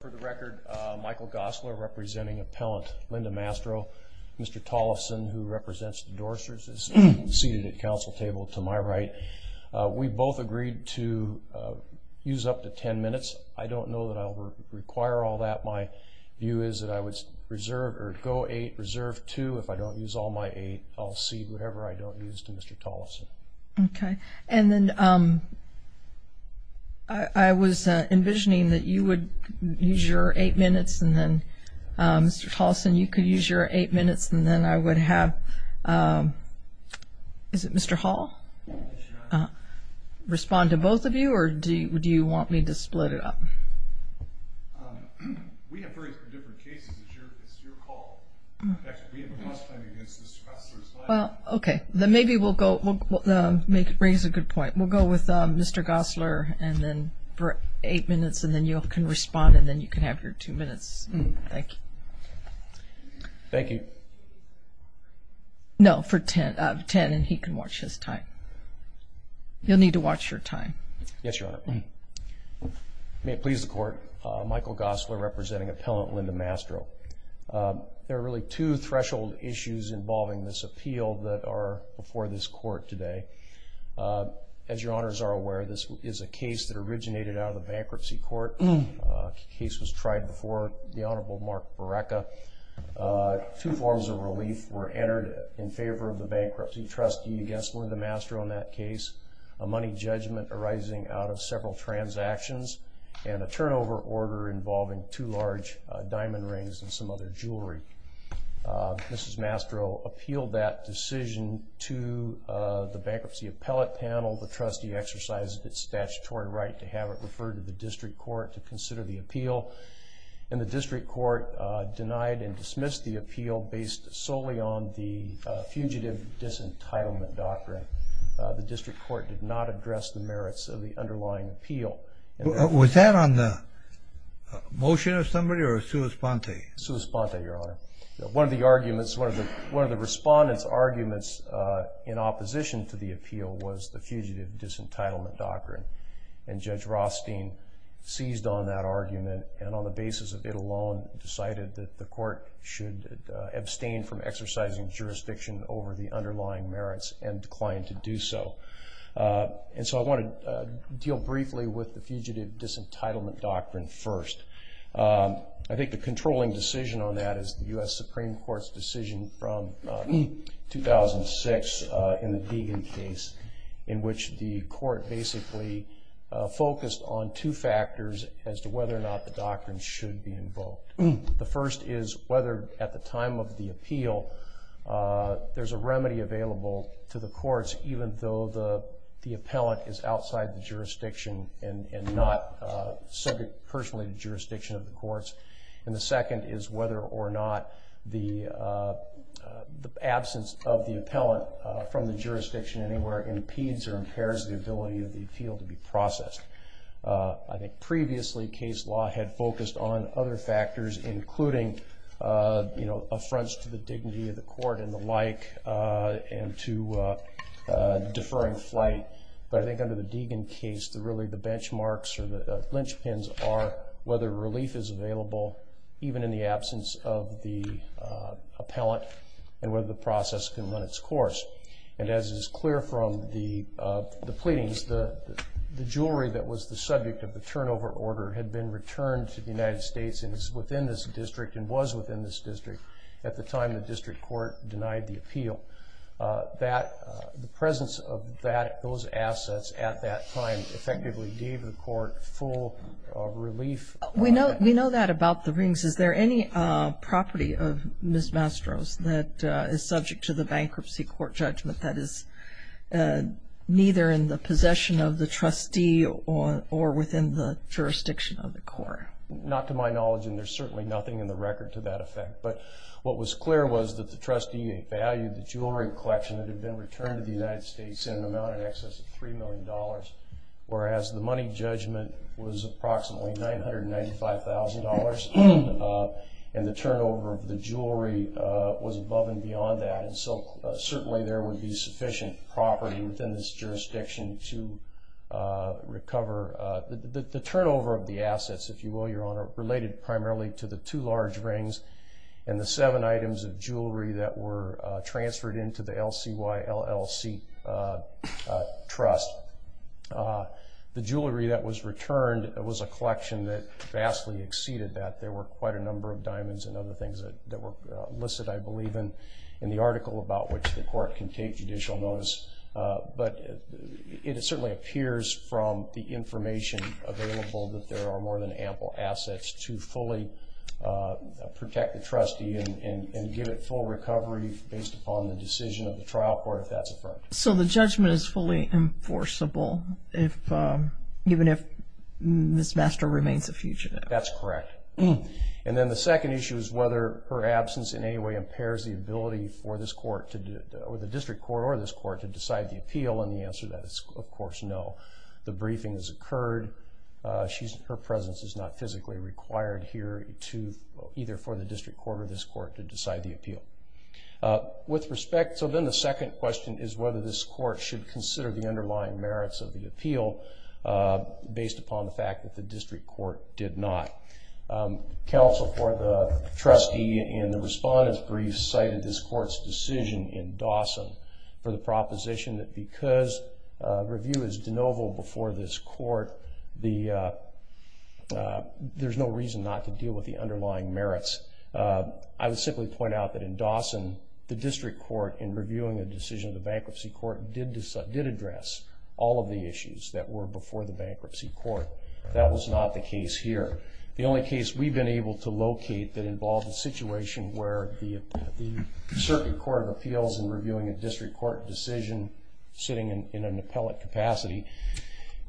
For the record, Michael Gosler representing appellant Linda Mastro, Mr. Tollefson, who represents the Dorchester, is seated at council table to my right. We both agreed to use up to 10 minutes. I don't know that I'll require all that. My view is that I would reserve or go eight, reserve two. If I don't use all my eight, I'll cede whatever I don't use to Mr. Tollefson. Okay. And then I was envisioning that you would use your eight minutes and then, Mr. Tollefson, you could use your eight minutes and then I would have, is it Mr. Hall? Yes, Your Honor. Respond to both of you or do you want me to split it up? We have various different cases. It's your call. In fact, we have a bus plan against Mr. Gosler as well. Okay. Then maybe we'll go, raise a good point. We'll go with Mr. Gosler and then for eight minutes and then you can respond and then you can have your two minutes. Thank you. Thank you. No, for 10 and he can watch his time. You'll need to watch your time. Yes, Your Honor. May it please the Court, Michael Gosler representing appellant Linda Mastro. There are really two threshold issues involving this appeal that are before this court today. As Your Honors are aware, this is a case that originated out of the bankruptcy court. The case was tried before the Honorable Mark Barreca. Two forms of relief were entered in favor of the bankruptcy trustee against Linda Mastro in that case. A money judgment arising out of several transactions and a turnover order involving two large diamond rings and some other jewelry. Mrs. Mastro appealed that decision to the bankruptcy appellate panel. The trustee exercised its statutory right to have it referred to the district court to consider the appeal. And the district court denied and dismissed the appeal based solely on the fugitive disentitlement doctrine. The district court did not address the merits of the underlying appeal. Was that on the motion of somebody or a sua sponte? Sua sponte, Your Honor. One of the arguments, one of the respondents' arguments in opposition to the appeal was the fugitive disentitlement doctrine. And Judge Rothstein seized on that argument and on the basis of it alone decided that the court should abstain from exercising jurisdiction over the underlying merits and declined to do so. And so I want to deal briefly with the fugitive disentitlement doctrine first. I think the controlling decision on that is the U.S. Supreme Court's decision from 2006 in the Deegan case in which the court basically focused on two factors as to whether or not the doctrine should be invoked. The first is whether at the time of the appeal there's a remedy available to the courts even though the appellant is outside the jurisdiction and not subject personally to jurisdiction of the courts. And the second is whether or not the absence of the appellant from the jurisdiction anywhere impedes or impairs the ability of the appeal to be processed. I think previously case law had focused on other factors including affronts to the dignity of the court and the like and to deferring flight. But I think under the Deegan case really the benchmarks or the lynchpins are whether relief is available even in the absence of the appellant and whether the process can run its course. And as is clear from the pleadings, the jewelry that was the subject of the turnover order had been returned to the United States and is within this district and was within this district at the time the district court denied the appeal. The presence of those assets at that time effectively gave the court full relief. We know that about the rings. Is there any property of Ms. Mastro's that is subject to the bankruptcy court judgment that is neither in the possession of the trustee or within the jurisdiction of the court? Not to my knowledge, and there's certainly nothing in the record to that effect. But what was clear was that the trustee valued the jewelry collection that had been returned to the United States in an amount in excess of $3 million, whereas the money judgment was approximately $995,000, and the turnover of the jewelry was above and beyond that. And so certainly there would be sufficient property within this jurisdiction to recover. The turnover of the assets, if you will, Your Honor, related primarily to the two large rings and the seven items of jewelry that were transferred into the LCY LLC trust. The jewelry that was returned was a collection that vastly exceeded that. There were quite a number of diamonds and other things that were illicit, I believe, in the article about which the court can take judicial notice. But it certainly appears from the information available that there are more than ample assets to fully protect the trustee and give it full recovery based upon the decision of the trial court, if that's affirmed. So the judgment is fully enforceable even if Ms. Mastro remains a fugitive? That's correct. And then the second issue is whether her absence in any way impairs the ability for this court or the district court or this court to decide the appeal, and the answer to that is, of course, no. The briefing has occurred. Her presence is not physically required here either for the district court or this court to decide the appeal. So then the second question is whether this court should consider the underlying merits of the appeal based upon the fact that the district court did not. Counsel for the trustee in the respondent's brief cited this court's decision in Dawson for the proposition that because review is de novo before this court, there's no reason not to deal with the underlying merits. I would simply point out that in Dawson, the district court, in reviewing the decision of the bankruptcy court, did address all of the issues that were before the bankruptcy court. That was not the case here. The only case we've been able to locate that involved a situation where the Circuit Court of Appeals in reviewing a district court decision, sitting in an appellate capacity,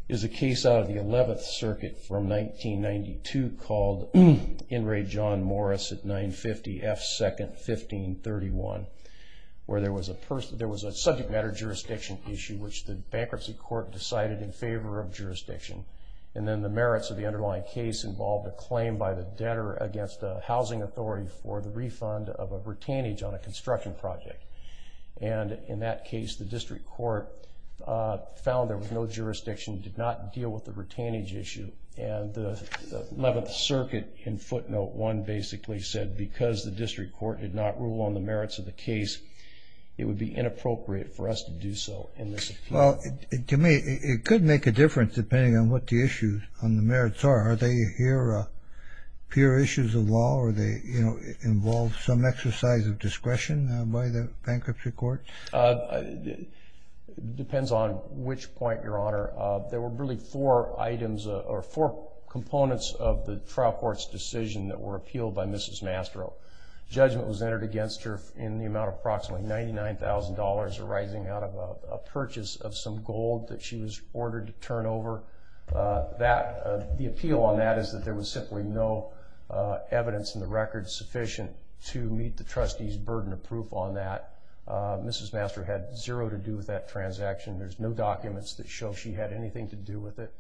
is a case out of the 11th Circuit from 1992 called In Re John Morris at 950 F. 2nd, 1531, where there was a subject matter jurisdiction issue which the bankruptcy court decided in favor of jurisdiction. And then the merits of the underlying case involved a claim by the debtor against a housing authority for the refund of a retainage on a construction project. And in that case, the district court found there was no jurisdiction, did not deal with the retainage issue, and the 11th Circuit in footnote 1 basically said because the district court did not rule on the merits of the case, it would be inappropriate for us to do so in this appeal. Well, to me, it could make a difference depending on what the issues on the merits are. Are they here pure issues of law, or they involve some exercise of discretion by the bankruptcy court? It depends on which point, Your Honor. There were really four items or four components of the trial court's decision that were appealed by Mrs. Mastro. Judgment was entered against her in the amount of approximately $99,000 arising out of a purchase of some gold that she was ordered to turn over. The appeal on that is that there was simply no evidence in the record sufficient to meet the trustee's burden of proof on that. Mrs. Mastro had zero to do with that transaction. There's no documents that show she had anything to do with it.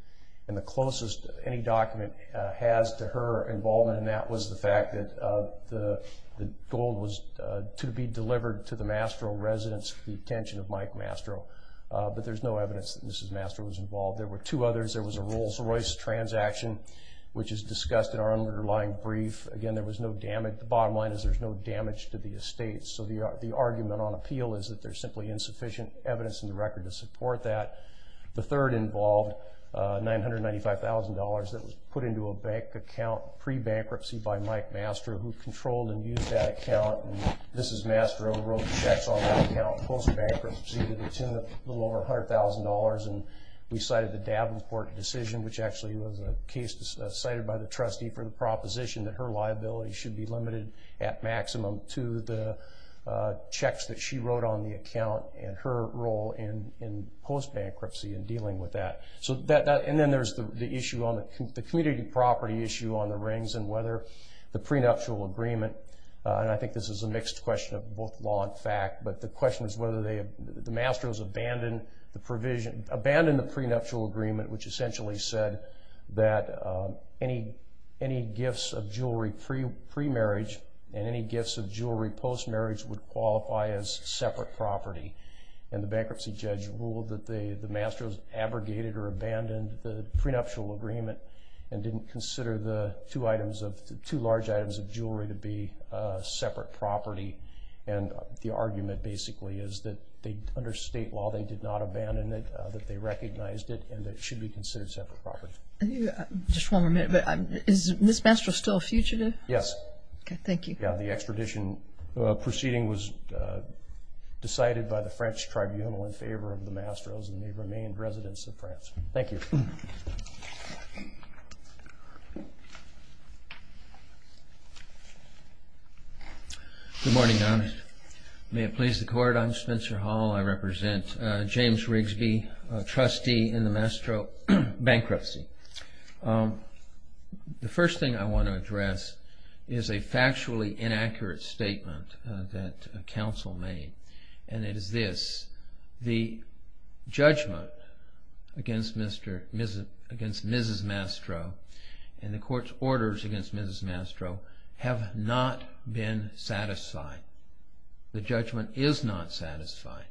And the closest any document has to her involvement in that was the fact that the gold was to be delivered to the Mastro residence for the detention of Mike Mastro. But there's no evidence that Mrs. Mastro was involved. There were two others. There was a Rolls-Royce transaction, which is discussed in our underlying brief. Again, there was no damage. The bottom line is there's no damage to the estate. So the argument on appeal is that there's simply insufficient evidence in the record to support that. The third involved $995,000 that was put into a bank account pre-bankruptcy by Mike Mastro, who controlled and used that account. And Mrs. Mastro wrote checks on that account post-bankruptcy to the tune of a little over $100,000. And we cited the Davenport decision, which actually was a case cited by the trustee for the proposition that her liability should be limited at maximum to the checks that she wrote on the account and her role in post-bankruptcy in dealing with that. And then there's the issue on the community property issue on the rings and whether the prenuptial agreement, and I think this is a mixed question of both law and fact, but the question is whether the Mastros abandoned the prenuptial agreement, which essentially said that any gifts of jewelry pre-marriage and any gifts of jewelry post-marriage would qualify as separate property. And the bankruptcy judge ruled that the Mastros abrogated or abandoned the prenuptial agreement and didn't consider the two large items of jewelry to be separate property. And the argument basically is that under state law they did not abandon it, that they recognized it, and it should be considered separate property. Just one more minute. Is Mrs. Mastro still a fugitive? Yes. Okay, thank you. Yeah, the extradition proceeding was decided by the French tribunal in favor of the Mastros, and they remained residents of France. Thank you. Good morning, Your Honor. May it please the Court, I'm Spencer Hall. I represent James Rigsby, a trustee in the Mastro bankruptcy. The first thing I want to address is a factually inaccurate statement that counsel made, and it is this. The judgment against Mrs. Mastro and the Court's orders against Mrs. Mastro have not been satisfied. The judgment is not satisfied.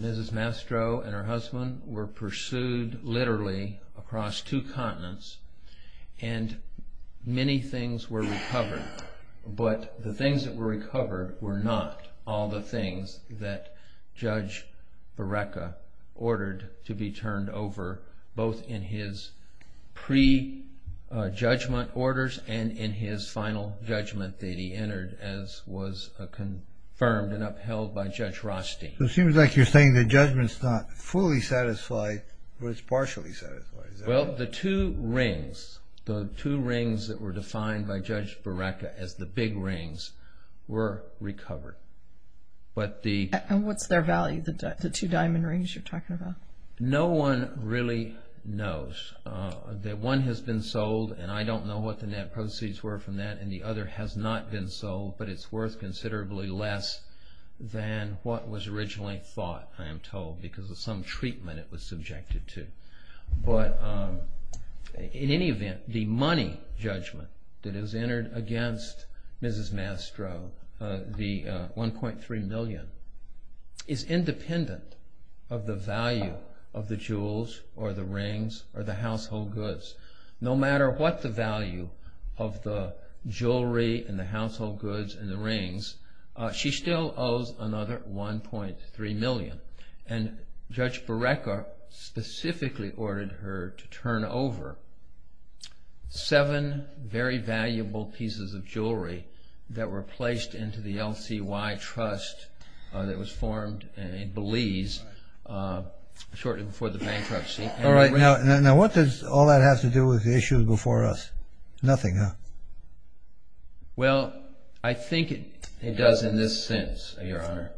Mrs. Mastro and her husband were pursued literally across two continents, and many things were recovered, but the things that were recovered were not all the things that Judge Barreca ordered to be turned over both in his pre-judgment orders and in his final judgment that he entered as was confirmed and upheld by Judge Rothstein. It seems like you're saying the judgment's not fully satisfied, but it's partially satisfied. Well, the two rings, the two rings that were defined by Judge Barreca as the big rings were recovered. And what's their value, the two diamond rings you're talking about? No one really knows. One has been sold, and I don't know what the net proceeds were from that, and the other has not been sold, but it's worth considerably less than what was originally thought, I am told, because of some treatment it was subjected to. But in any event, the money judgment that is entered against Mrs. Mastro, the $1.3 million, is independent of the value of the jewels or the rings or the household goods. No matter what the value of the jewelry and the household goods and the rings, she still owes another $1.3 million. And Judge Barreca specifically ordered her to turn over seven very valuable pieces of jewelry that were placed into the L.C.Y. Trust that was formed in Belize shortly before the bankruptcy. All right, now what does all that have to do with the issues before us? Nothing, huh? Well, I think it does in this sense, Your Honor.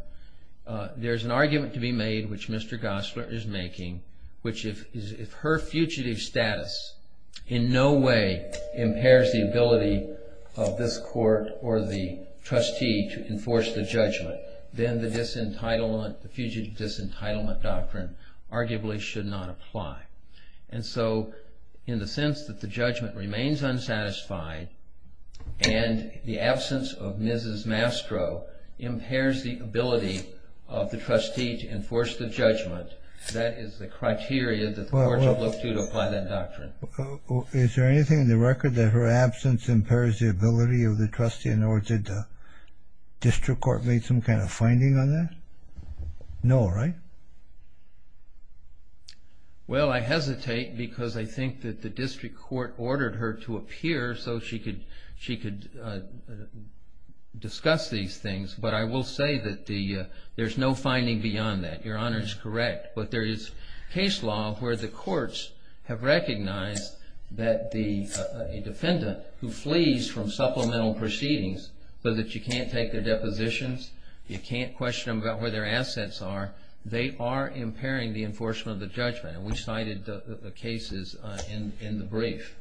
There's an argument to be made, which Mr. Gosler is making, which is if her fugitive status in no way impairs the ability of this court or the trustee to enforce the judgment, then the fugitive disentitlement doctrine arguably should not apply. And so, in the sense that the judgment remains unsatisfied and the absence of Mrs. Mastro impairs the ability of the trustee to enforce the judgment, that is the criteria that the court should look to to apply that doctrine. Is there anything in the record that her absence impairs the ability of the trustee? In other words, did the district court make some kind of finding on that? No, right? Well, I hesitate because I think that the district court ordered her to appear so she could discuss these things. But I will say that there's no finding beyond that. Your Honor is correct, but there is case law where the courts have recognized that a defendant who flees from supplemental proceedings so that you can't take their depositions, you can't question them about where their assets are, they are impairing the enforcement of the judgment. And we cited the cases in the brief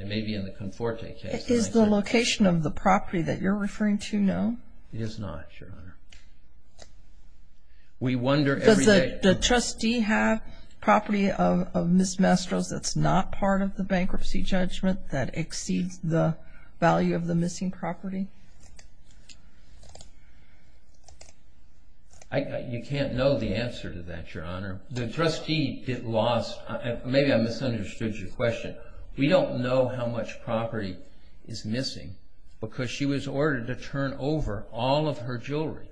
and maybe in the Conforte case. Is the location of the property that you're referring to known? It is not, Your Honor. Does the trustee have property of Ms. Mestros that's not part of the bankruptcy judgment that exceeds the value of the missing property? You can't know the answer to that, Your Honor. The trustee lost, maybe I misunderstood your question. Because she was ordered to turn over all of her jewelry.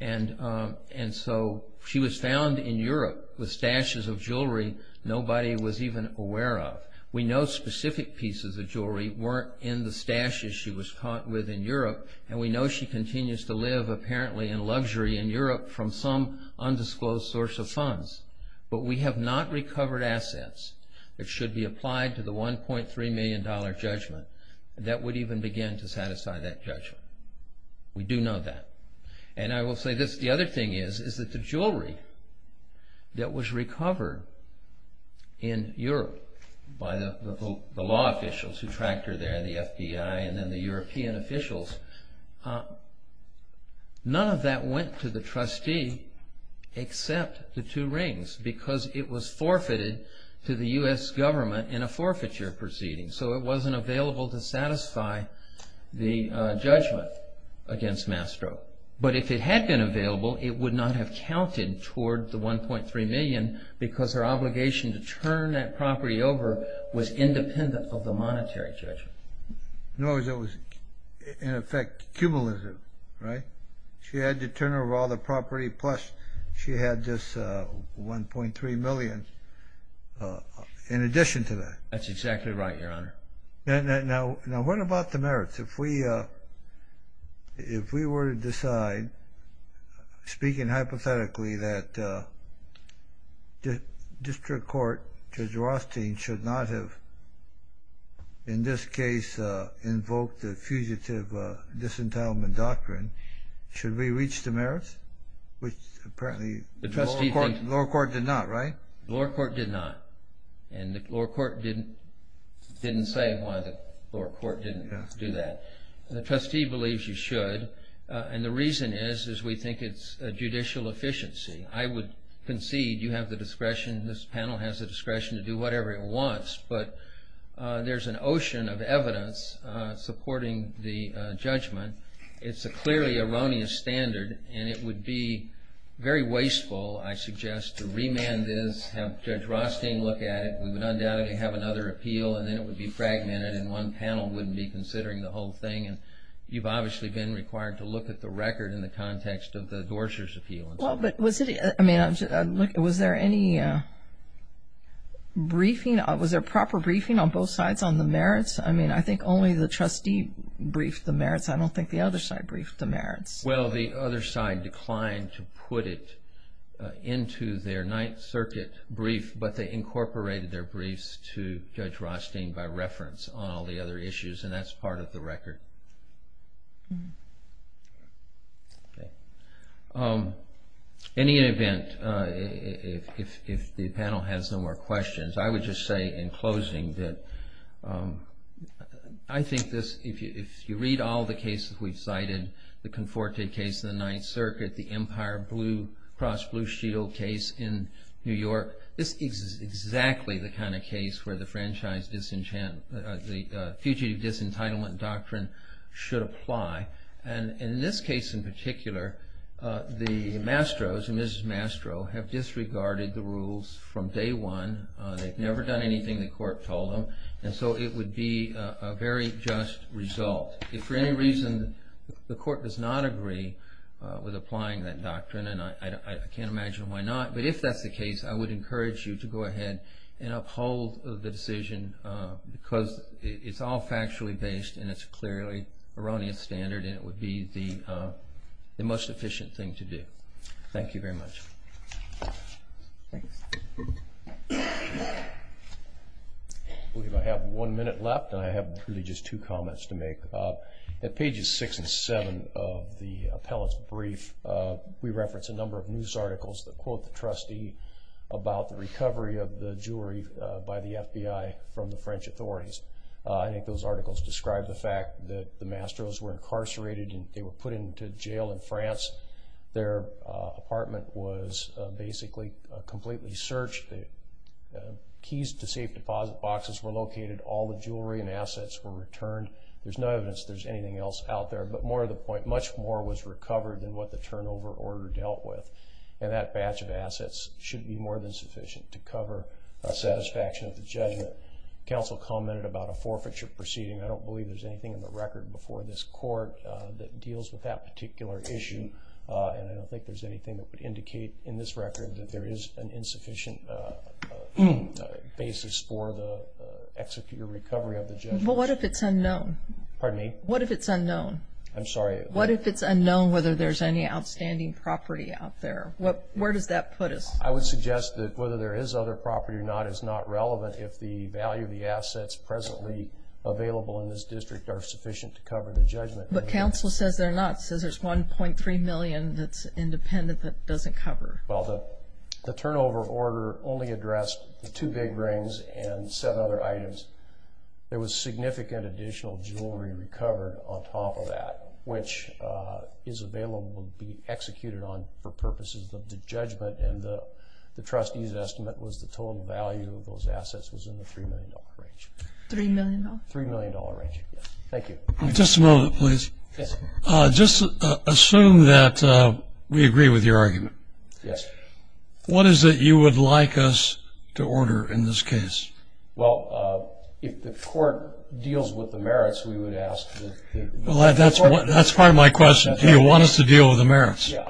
And so she was found in Europe with stashes of jewelry nobody was even aware of. We know specific pieces of jewelry weren't in the stashes she was caught with in Europe and we know she continues to live apparently in luxury in Europe from some undisclosed source of funds. But we have not recovered assets that should be applied to the $1.3 million judgment that would even begin to satisfy that judgment. We do know that. And I will say this, the other thing is that the jewelry that was recovered in Europe by the law officials who tracked her there, the FBI and then the European officials, none of that went to the trustee except the two rings because it was forfeited to the U.S. government in a forfeiture proceeding. So it wasn't available to satisfy the judgment against Mastro. But if it had been available, it would not have counted toward the $1.3 million because her obligation to turn that property over was independent of the monetary judgment. In other words, it was in effect cumulative, right? She had to turn over all the property plus she had this $1.3 million in addition to that. That's exactly right, Your Honor. Now what about the merits? If we were to decide, speaking hypothetically, that District Court Judge Rothstein should not have, in this case, invoked the fugitive disentitlement doctrine, should we reach the merits, which apparently the lower court did not, right? The lower court did not. And the lower court didn't say why the lower court didn't do that. The trustee believes you should, and the reason is we think it's judicial efficiency. I would concede you have the discretion, this panel has the discretion to do whatever it wants, but there's an ocean of evidence supporting the judgment. It's a clearly erroneous standard and it would be very wasteful, I suggest, to remand this, have Judge Rothstein look at it. We would undoubtedly have another appeal and then it would be fragmented and one panel wouldn't be considering the whole thing. And you've obviously been required to look at the record in the context of the Dorscher's appeal. Well, but was there any briefing? Was there proper briefing on both sides on the merits? I mean, I think only the trustee briefed the merits. I don't think the other side briefed the merits. Well, the other side declined to put it into their Ninth Circuit brief, but they incorporated their briefs to Judge Rothstein by reference on all the other issues, and that's part of the record. In any event, if the panel has no more questions, I would just say in closing that I think this, if you read all the cases we've cited, the Conforte case in the Ninth Circuit, the Empire Blue, Cross Blue Shield case in New York, this is exactly the kind of case where the Fugitive Disentitlement Doctrine should apply. And in this case in particular, the Mastros and Mrs. Mastro have disregarded the rules from day one. They've never done anything the court told them, and so it would be a very just result. If for any reason the court does not agree with applying that doctrine, and I can't imagine why not, but if that's the case, I would encourage you to go ahead and uphold the decision because it's all factually based and it's clearly a erroneous standard and it would be the most efficient thing to do. Thank you very much. I believe I have one minute left and I have really just two comments to make. At pages six and seven of the appellate's brief, we reference a number of news articles that quote the trustee about the recovery of the jury by the FBI from the French authorities. I think those articles describe the fact that the Mastros were incarcerated and they were put into jail in France. Their apartment was basically completely searched. The keys to safe deposit boxes were located. All the jewelry and assets were returned. There's no evidence there's anything else out there, but more to the point, much more was recovered than what the turnover order dealt with, and that batch of assets should be more than sufficient to cover the satisfaction of the judgment. Counsel commented about a forfeiture proceeding. I don't believe there's anything in the record before this court that deals with that particular issue, and I don't think there's anything that would indicate in this record that there is an insufficient basis for the executed recovery of the judgment. But what if it's unknown? Pardon me? What if it's unknown? I'm sorry? What if it's unknown whether there's any outstanding property out there? Where does that put us? I would suggest that whether there is other property or not is not relevant. If the value of the assets presently available in this district are sufficient to cover the judgment. But counsel says they're not, says there's $1.3 million that's independent that doesn't cover. Well, the turnover order only addressed the two big rings and seven other items. There was significant additional jewelry recovered on top of that, which is available to be executed on for purposes of the judgment, and the trustee's estimate was the total value of those assets was in the $3 million range. $3 million? $3 million range, yes. Thank you. Just a moment, please. Yes. Just assume that we agree with your argument. Yes. What is it you would like us to order in this case? Well, if the court deals with the merits, we would ask that the court. That's part of my question. Do you want us to deal with the merits? Yeah.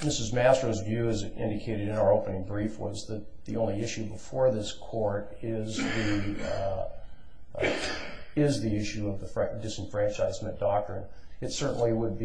Mrs. Mastro's view, as indicated in our opening brief, was that the only issue before this court is the issue of the disenfranchisement doctrine. It certainly would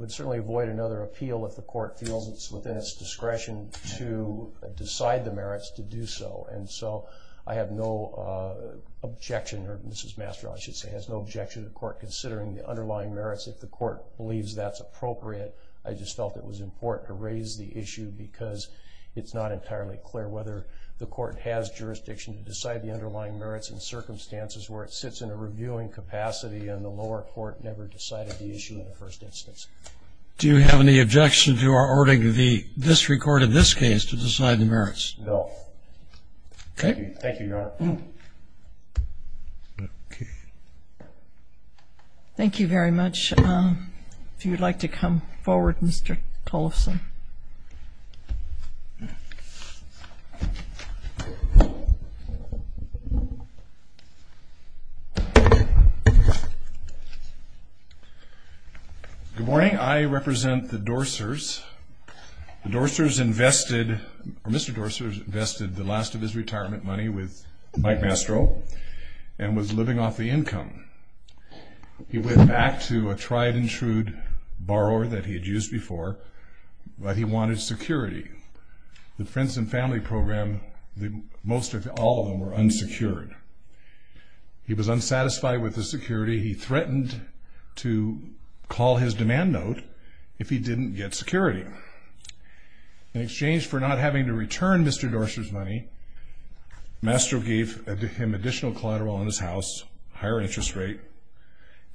avoid another appeal if the court feels it's within its discretion to decide the merits to do so. And so I have no objection, or Mrs. Mastro, I should say, has no objection to the court considering the underlying merits if the court believes that's appropriate. I just felt it was important to raise the issue because it's not entirely clear whether the court has jurisdiction to decide the underlying merits in circumstances where it sits in a reviewing capacity and the lower court never decided the issue in the first instance. Do you have any objection to our ordering the district court in this case to decide the merits? No. Okay. Thank you, Your Honor. Okay. Thank you very much. If you'd like to come forward, Mr. Colson. I represent the Dorsers. The Dorsers invested, or Mr. Dorsers invested the last of his retirement money with Mike Mastro and was living off the income. He went back to a tried and true borrower that he had used before, but he wanted security. The Friends and Family Program, most of all of them were unsecured. He was unsatisfied with the security. He threatened to call his demand note if he didn't get security. In exchange for not having to return Mr. Dorsers' money, Mastro gave him additional collateral on his house, higher interest rate,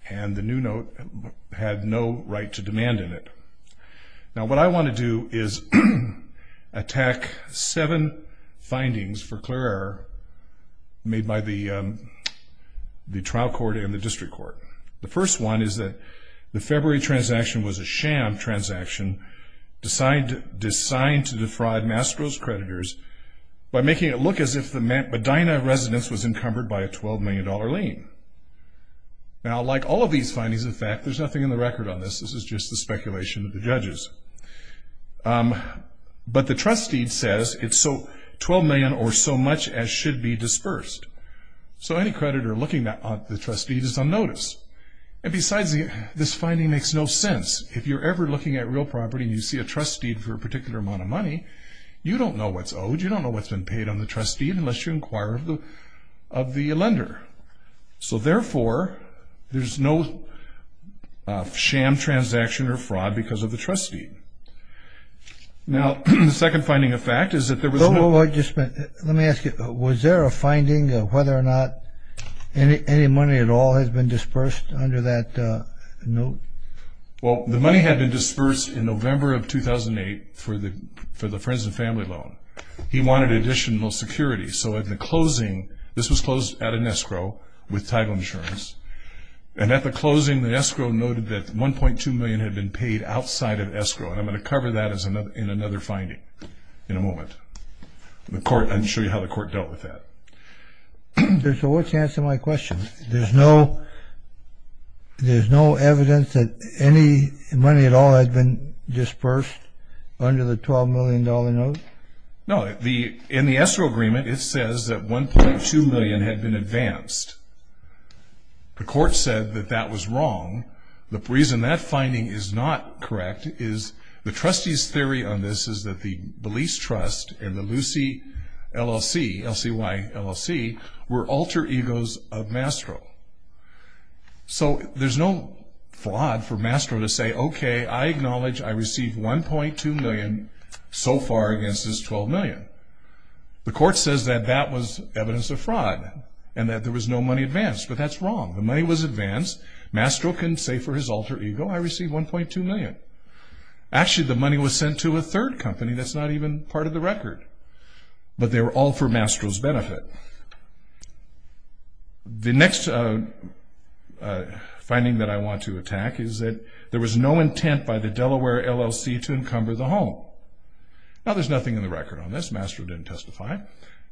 and the new note had no right to demand in it. Now, what I want to do is attack seven findings for clear error made by the trial court and the district court. The first one is that the February transaction was a sham transaction designed to defraud Mastro's creditors by making it look as if the Medina residence was encumbered by a $12 million lien. Now, like all of these findings, in fact, there's nothing in the record on this. This is just the speculation of the judges. But the trust deed says it's $12 million or so much as should be dispersed. So any creditor looking at the trust deed is on notice. And besides, this finding makes no sense. If you're ever looking at real property and you see a trust deed for a particular amount of money, you don't know what's owed. You don't know what's been paid on the trust deed unless you inquire of the lender. So, therefore, there's no sham transaction or fraud because of the trust deed. Now, the second finding of fact is that there was no – Let me ask you. Was there a finding of whether or not any money at all has been dispersed under that note? Well, the money had been dispersed in November of 2008 for the friends and family loan. He wanted additional security. So at the closing – this was closed at an escrow with title insurance. And at the closing, the escrow noted that $1.2 million had been paid outside of escrow. And I'm going to cover that in another finding in a moment. I'll show you how the court dealt with that. So what's the answer to my question? There's no evidence that any money at all had been dispersed under the $12 million note? No. In the escrow agreement, it says that $1.2 million had been advanced. The court said that that was wrong. The reason that finding is not correct is the trustee's theory on this is that the Belize Trust and the Lucy LLC, L-C-Y LLC, were alter egos of Mastro. So there's no fraud for Mastro to say, okay, I acknowledge I received $1.2 million so far against this $12 million. The court says that that was evidence of fraud and that there was no money advanced. But that's wrong. The money was advanced. Mastro can say for his alter ego, I received $1.2 million. Actually, the money was sent to a third company. That's not even part of the record. But they were all for Mastro's benefit. The next finding that I want to attack is that there was no intent by the Delaware LLC to encumber the home. Now, there's nothing in the record on this. Mastro didn't testify.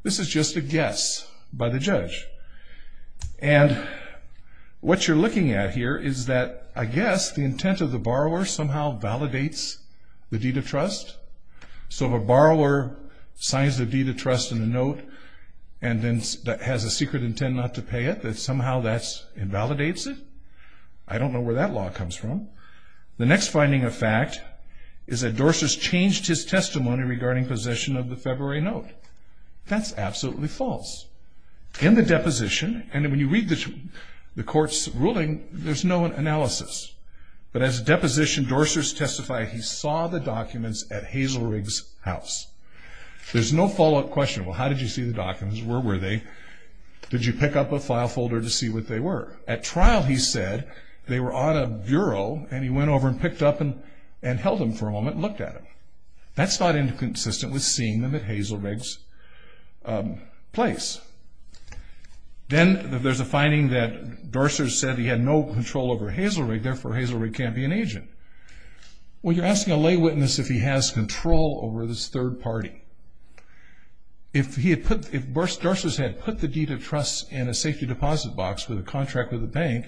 This is just a guess by the judge. And what you're looking at here is that, I guess, the intent of the borrower somehow validates the deed of trust. So if a borrower signs the deed of trust in a note and then has a secret intent not to pay it, that somehow that invalidates it? I don't know where that law comes from. The next finding of fact is that Dorsers changed his testimony regarding possession of the February note. That's absolutely false. In the deposition, and when you read the court's ruling, there's no analysis. But as a deposition, Dorsers testified he saw the documents at Hazelrig's house. There's no follow-up question. Well, how did you see the documents? Where were they? Did you pick up a file folder to see what they were? At trial, he said they were on a bureau, and he went over and picked up and held them for a moment and looked at them. That's not inconsistent with seeing them at Hazelrig's place. Then there's a finding that Dorsers said he had no control over Hazelrig, therefore Hazelrig can't be an agent. Well, you're asking a lay witness if he has control over this third party. If Dorsers had put the deed of trust in a safety deposit box with a contract with a bank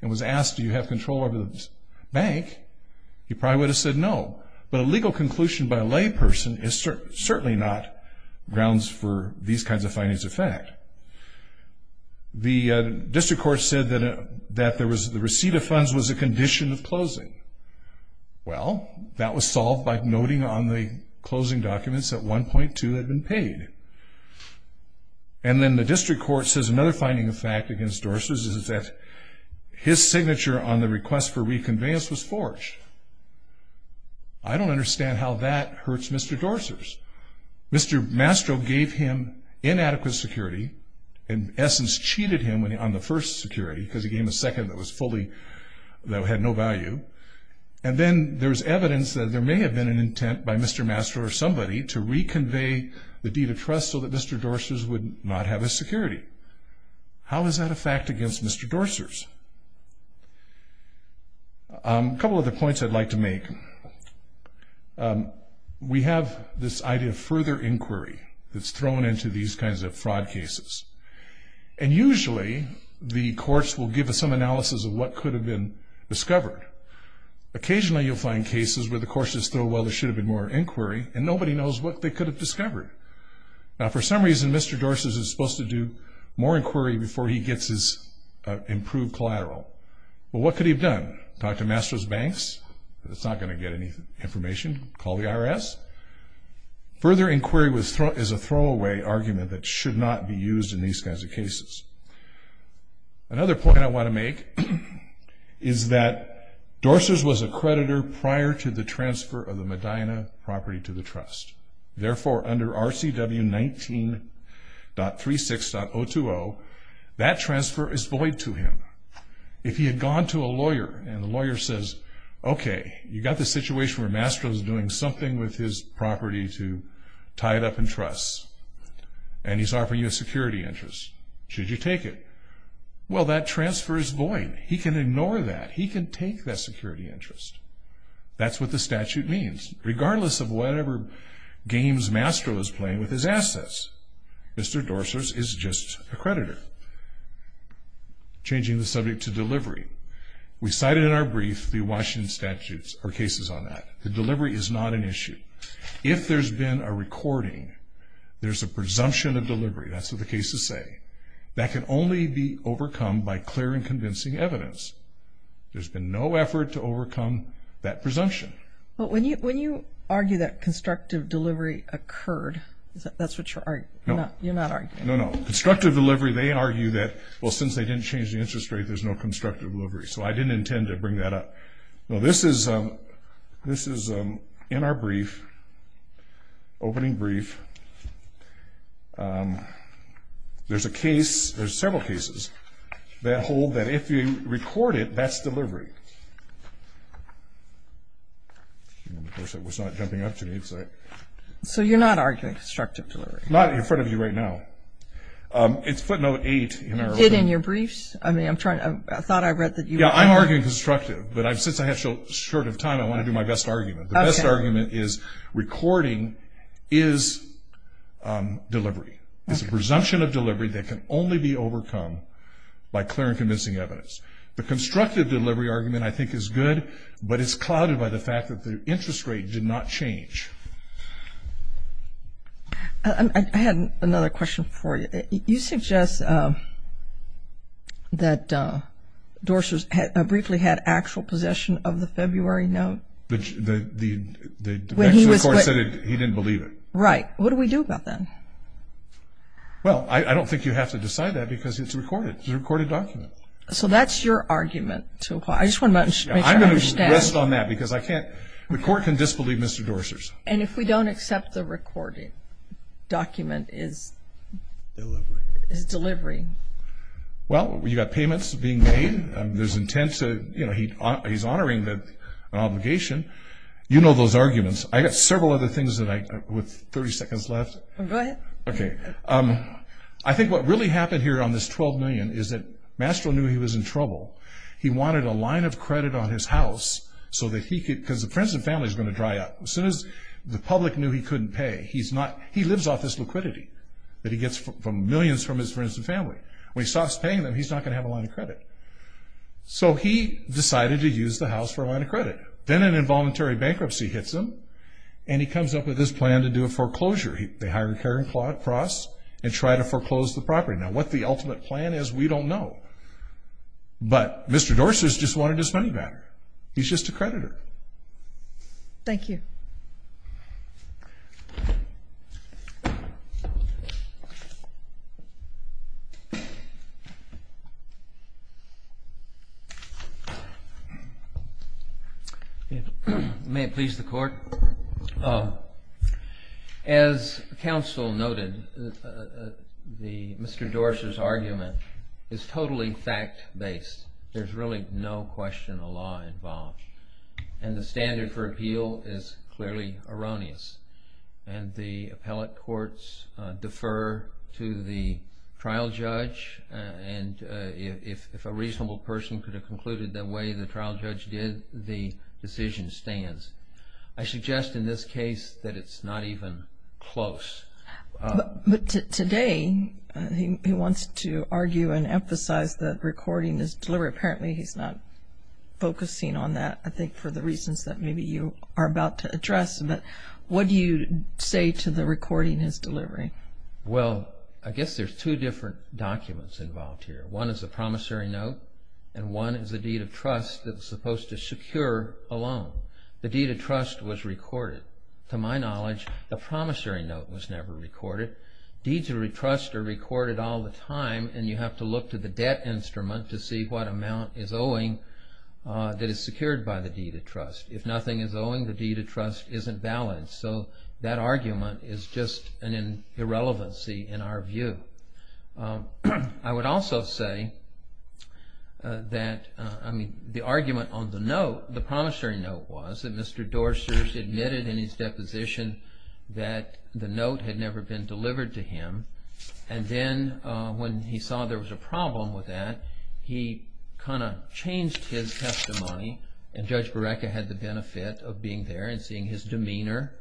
and was asked, do you have control over this bank, he probably would have said no. But a legal conclusion by a lay person is certainly not grounds for these kinds of findings of fact. The district court said that the receipt of funds was a condition of closing. Well, that was solved by noting on the closing documents that 1.2 had been paid. And then the district court says another finding of fact against Dorsers is that his signature on the request for reconveyance was forged. I don't understand how that hurts Mr. Dorsers. Mr. Mastro gave him inadequate security, in essence cheated him on the first security because he gave him a second that was fully, that had no value. And then there's evidence that there may have been an intent by Mr. Mastro or somebody to reconvey the deed of trust so that Mr. Dorsers would not have his security. How is that a fact against Mr. Dorsers? A couple of other points I'd like to make. We have this idea of further inquiry that's thrown into these kinds of fraud cases. And usually the courts will give us some analysis of what could have been discovered. Occasionally you'll find cases where the courts just throw, well, there should have been more inquiry, and nobody knows what they could have discovered. Now, for some reason, Mr. Dorsers is supposed to do more inquiry before he gets his improved collateral. Well, what could he have done? Talk to Mastro's banks? It's not going to get any information. Call the IRS? Further inquiry is a throwaway argument that should not be used in these kinds of cases. Another point I want to make is that Dorsers was a creditor prior to the transfer of the Medina property to the trust. Therefore, under RCW 19.36.020, that transfer is void to him. If he had gone to a lawyer and the lawyer says, okay, you've got this situation where Mastro's doing something with his property to tie it up in trusts, and he's offering you a security interest. Should you take it? Well, that transfer is void. He can ignore that. He can take that security interest. That's what the statute means. Regardless of whatever games Mastro is playing with his assets, Mr. Dorsers is just a creditor. Changing the subject to delivery. We cited in our brief the Washington statutes or cases on that. The delivery is not an issue. If there's been a recording, there's a presumption of delivery. That's what the cases say. That can only be overcome by clear and convincing evidence. There's been no effort to overcome that presumption. When you argue that constructive delivery occurred, that's what you're arguing? No. You're not arguing? No, no. Constructive delivery, they argue that, well, since they didn't change the interest rate, there's no constructive delivery. So I didn't intend to bring that up. No, this is in our brief, opening brief. There's a case, there's several cases, that hold that if you record it, that's delivery. Of course, that was not jumping up to me. So you're not arguing constructive delivery? Not in front of you right now. It's footnote 8. Is it in your briefs? I mean, I thought I read that you were. Yeah, I'm arguing constructive. But since I have short of time, I want to do my best argument. The best argument is recording is delivery. It's a presumption of delivery that can only be overcome by clear and convincing evidence. The constructive delivery argument, I think, is good, but it's clouded by the fact that the interest rate did not change. I had another question for you. You suggest that Dorsers briefly had actual possession of the February note. The court said he didn't believe it. Right. What do we do about that? Well, I don't think you have to decide that because it's recorded. It's a recorded document. So that's your argument. I just want to make sure I understand. I'm going to rest on that because I can't. The court can disbelieve Mr. Dorsers. And if we don't accept the recorded document is delivery. Well, you've got payments being made. There's intent to, you know, he's honoring an obligation. You know those arguments. I've got several other things with 30 seconds left. Go ahead. Okay. I think what really happened here on this $12 million is that Mastro knew he was in trouble. He wanted a line of credit on his house so that he could, because the Princeton family is going to dry up. As soon as the public knew he couldn't pay, he's not, he lives off this liquidity that he gets from millions from his friends and family. When he stops paying them, he's not going to have a line of credit. So he decided to use the house for a line of credit. Then an involuntary bankruptcy hits him, and he comes up with this plan to do a foreclosure. They hire Karen Cross and try to foreclose the property. Now, what the ultimate plan is, we don't know. But Mr. Dorsers just wanted his money back. He's just a creditor. Thank you. May it please the Court. As counsel noted, Mr. Dorser's argument is totally fact-based. There's really no question of law involved. And the standard for appeal is clearly erroneous. And the appellate courts defer to the trial judge. And if a reasonable person could have concluded the way the trial judge did, the decision stands. I suggest in this case that it's not even close. But today he wants to argue and emphasize that recording his delivery. Apparently he's not focusing on that, I think, for the reasons that maybe you are about to address. But what do you say to the recording his delivery? Well, I guess there's two different documents involved here. One is a promissory note, and one is a deed of trust that's supposed to secure a loan. The deed of trust was recorded. But to my knowledge, a promissory note was never recorded. Deeds of trust are recorded all the time. And you have to look to the debt instrument to see what amount is owing that is secured by the deed of trust. If nothing is owing, the deed of trust isn't balanced. So that argument is just an irrelevancy in our view. I would also say that the argument on the note, the promissory note, was that Mr. Dorsters admitted in his deposition that the note had never been delivered to him. And then when he saw there was a problem with that, he kind of changed his testimony. And Judge Bereke had the benefit of being there and seeing his demeanor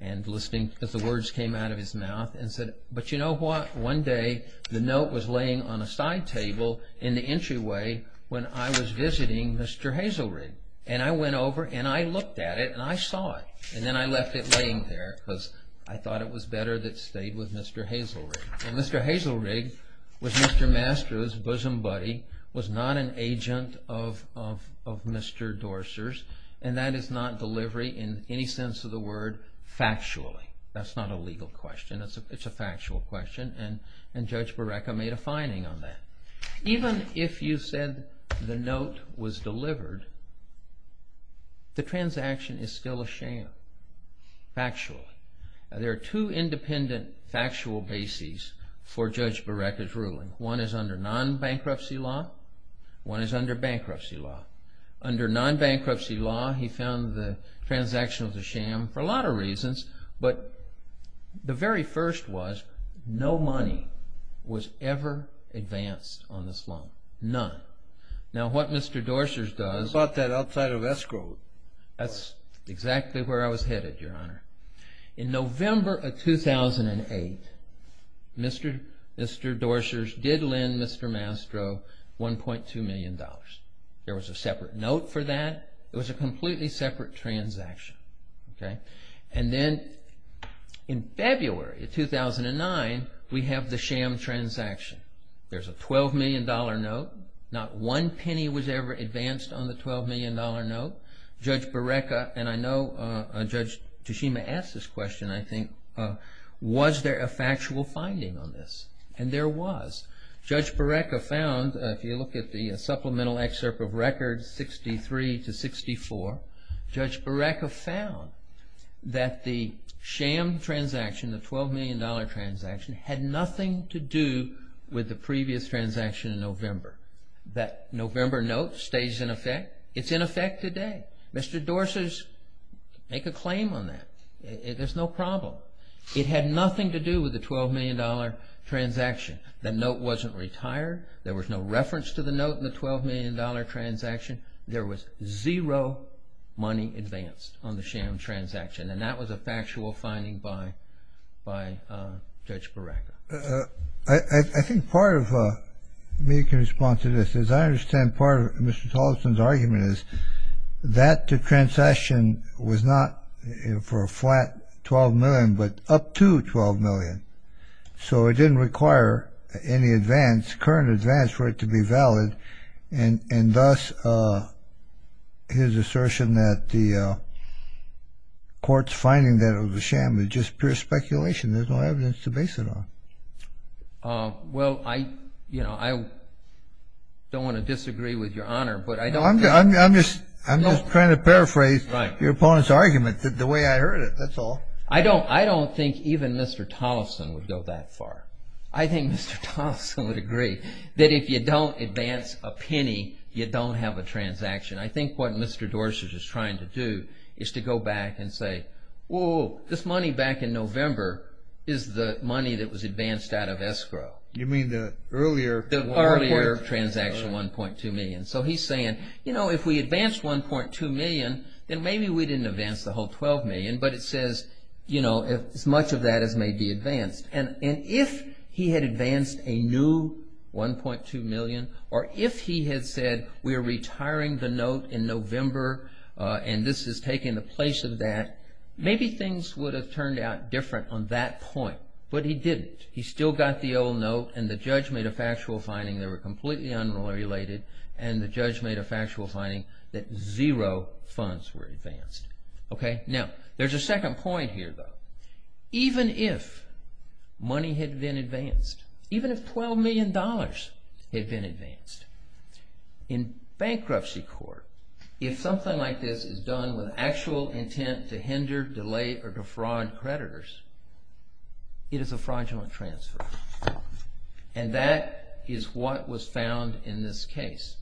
and listening as the words came out of his mouth and said, but you know what, one day the note was laying on a side table in the entryway when I was visiting Mr. Hazelrig. And I went over and I looked at it and I saw it. And then I left it laying there because I thought it was better that it stayed with Mr. Hazelrig. And Mr. Hazelrig was Mr. Mastro's bosom buddy, was not an agent of Mr. Dorsters, and that is not delivery in any sense of the word factually. That's not a legal question, it's a factual question. And Judge Bereke made a finding on that. Even if you said the note was delivered, the transaction is still a sham factually. There are two independent factual bases for Judge Bereke's ruling. One is under non-bankruptcy law, one is under bankruptcy law. Under non-bankruptcy law he found the transaction was a sham for a lot of reasons, but the very first was no money was ever advanced on this loan. None. Now what Mr. Dorsters does... I bought that outside of escrow. That's exactly where I was headed, Your Honor. In November of 2008, Mr. Dorsters did lend Mr. Mastro $1.2 million. There was a separate note for that. It was a completely separate transaction. And then in February of 2009, we have the sham transaction. There's a $12 million note. Not one penny was ever advanced on the $12 million note. Judge Bereke, and I know Judge Tashima asked this question, I think, was there a factual finding on this? And there was. Judge Bereke found, if you look at the supplemental excerpt of records 63 to 64, Judge Bereke found that the sham transaction, the $12 million transaction, had nothing to do with the previous transaction in November. That November note stays in effect. It's in effect today. Mr. Dorsters, make a claim on that. There's no problem. It had nothing to do with the $12 million transaction. The note wasn't retired. There was no reference to the note in the $12 million transaction. There was zero money advanced on the sham transaction. And that was a factual finding by Judge Bereke. I think part of me can respond to this. As I understand part of Mr. Tollefson's argument is that the transaction was not for a flat $12 million, but up to $12 million. So it didn't require any advance, current advance, for it to be valid. And, thus, his assertion that the court's finding that it was a sham is just pure speculation. There's no evidence to base it on. Well, I don't want to disagree with your Honor, but I don't think. I'm just trying to paraphrase your opponent's argument. The way I heard it, that's all. I don't think even Mr. Tollefson would go that far. I think Mr. Tollefson would agree that if you don't advance a penny, you don't have a transaction. I think what Mr. Dorsett is trying to do is to go back and say, whoa, this money back in November is the money that was advanced out of escrow. You mean the earlier? The earlier transaction, $1.2 million. So he's saying, you know, if we advance $1.2 million, then maybe we didn't advance the whole $12 million. But it says, you know, as much of that as may be advanced. And if he had advanced a new $1.2 million, or if he had said, we are retiring the note in November, and this is taking the place of that, maybe things would have turned out different on that point. But he didn't. He still got the old note, and the judge made a factual finding. They were completely unrelated. And the judge made a factual finding that zero funds were advanced. Okay? Now, there's a second point here, though. Even if money had been advanced, even if $12 million had been advanced, in bankruptcy court, if something like this is done with actual intent to hinder, delay, or defraud creditors, it is a fraudulent transfer. And that is what was found in this case.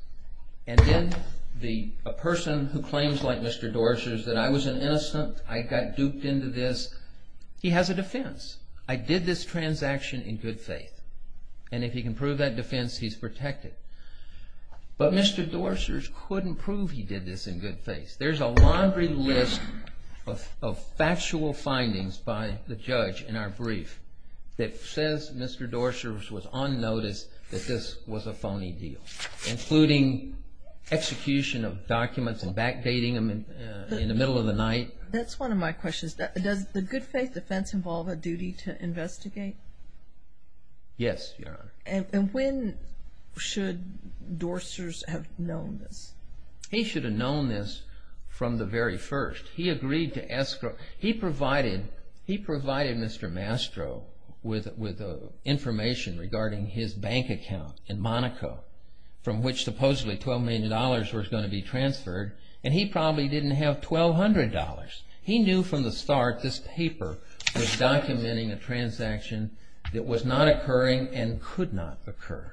And then a person who claims, like Mr. Dorsett, that I was an innocent, I got duped into this, he has a defense. I did this transaction in good faith. And if he can prove that defense, he's protected. But Mr. Dorsett couldn't prove he did this in good faith. There's a laundry list of factual findings by the judge in our brief that says Mr. Dorsett was on notice that this was a phony deal, including execution of documents and backdating them in the middle of the night. That's one of my questions. Does the good faith defense involve a duty to investigate? Yes, Your Honor. And when should Dorsett have known this? He should have known this from the very first. He agreed to escrow. He provided Mr. Mastro with information regarding his bank account in Monaco, from which supposedly $12 million was going to be transferred. And he probably didn't have $1,200. He knew from the start this paper was documenting a transaction that was not occurring and could not occur.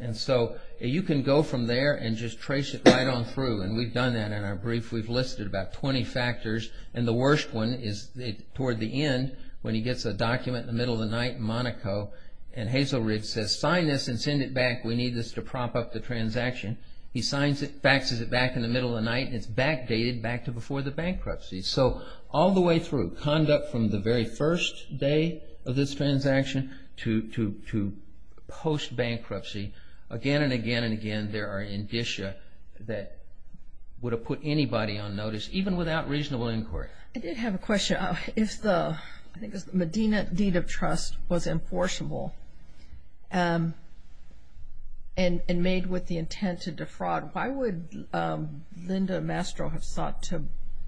And so you can go from there and just trace it right on through. And we've done that in our brief. We've listed about 20 factors. And the worst one is toward the end when he gets a document in the middle of the night in Monaco and Hazel Ridge says, sign this and send it back. We need this to prop up the transaction. He signs it, faxes it back in the middle of the night, and it's backdated back to before the bankruptcy. So all the way through, conduct from the very first day of this transaction to post-bankruptcy, again and again and again there are indicia that would have put anybody on notice, even without reasonable inquiry. I did have a question. If the Medina deed of trust was enforceable and made with the intent to defraud, why would Linda Mastro have sought to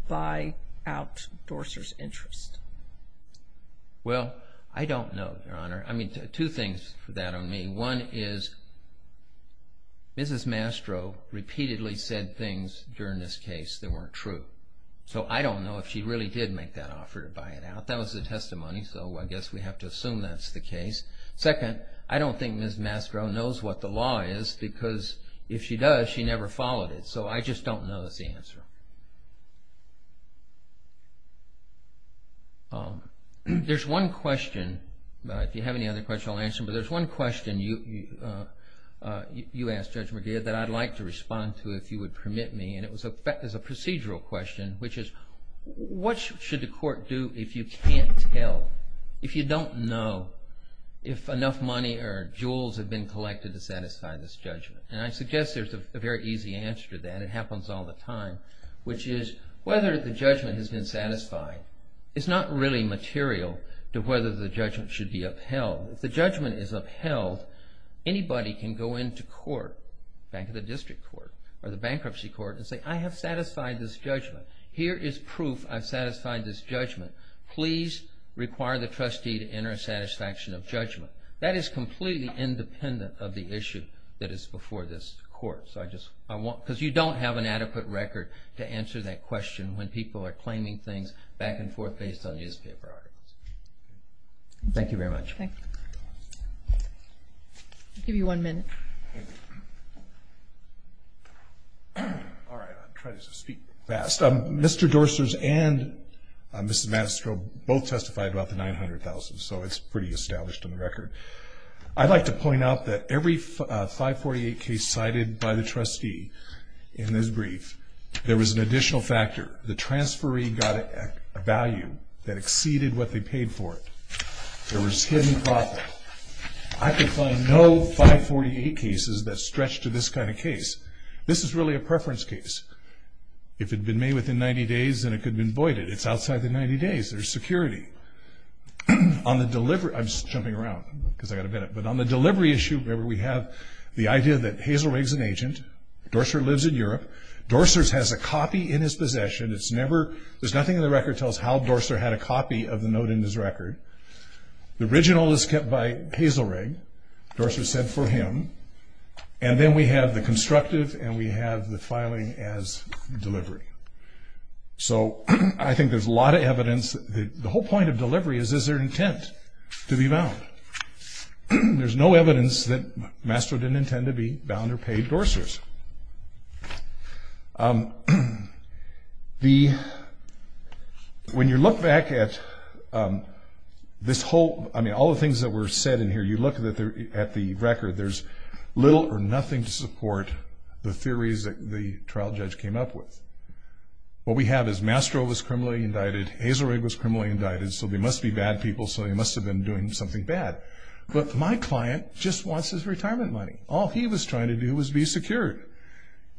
buy out Dorser's interest? Well, I don't know, Your Honor. I mean, two things for that on me. One is Mrs. Mastro repeatedly said things during this case that weren't true. So I don't know if she really did make that offer to buy it out. That was the testimony, so I guess we have to assume that's the case. Second, I don't think Mrs. Mastro knows what the law is because if she does, she never followed it. So I just don't know the answer. There's one question, if you have any other questions, I'll answer them. But there's one question you asked, Judge McGeer, that I'd like to respond to, if you would permit me, and it was a procedural question, which is what should the court do if you can't tell, if you don't know if enough money or jewels have been collected to satisfy this judgment? And I suggest there's a very easy answer to that. It happens all the time, which is whether the judgment has been satisfied. It's not really material to whether the judgment should be upheld. If the judgment is upheld, anybody can go into court, back to the district court or the bankruptcy court, and say, I have satisfied this judgment. Here is proof I've satisfied this judgment. Please require the trustee to enter a satisfaction of judgment. That is completely independent of the issue that is before this court. Because you don't have an adequate record to answer that question when people are claiming things back and forth based on newspaper articles. Thank you very much. Thank you. I'll give you one minute. All right, I'll try to speak fast. Mr. Dorsters and Mrs. Manistro both testified about the $900,000, so it's pretty established on the record. I'd like to point out that every 548 case cited by the trustee in this brief, there was an additional factor. The transferee got a value that exceeded what they paid for it. There was hidden profit. I could find no 548 cases that stretched to this kind of case. This is really a preference case. If it had been made within 90 days, then it could have been voided. It's outside the 90 days. There's security. I'm just jumping around because I've got a minute. But on the delivery issue, Dorsters lives in Europe. Dorsters has a copy in his possession. There's nothing in the record that tells how Dorsters had a copy of the note in his record. The original is kept by Hazelrig. Dorsters said for him. And then we have the constructive and we have the filing as delivery. So I think there's a lot of evidence. The whole point of delivery is, is there intent to be bound? There's no evidence that Manistro didn't intend to be bound or paid Dorsters. When you look back at this whole, I mean, all the things that were said in here, you look at the record. There's little or nothing to support the theories that the trial judge came up with. What we have is Manistro was criminally indicted. Hazelrig was criminally indicted. So they must be bad people. So they must have been doing something bad. But my client just wants his retirement money. All he was trying to do was be secured.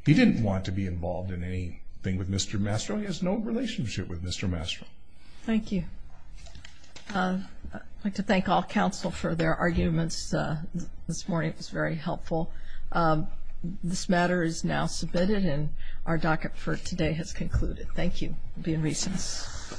He didn't want to be involved in anything with Mr. Manistro. He has no relationship with Mr. Manistro. Thank you. I'd like to thank all counsel for their arguments this morning. It was very helpful. This matter is now submitted and our docket for today has concluded. Thank you. Be in recess.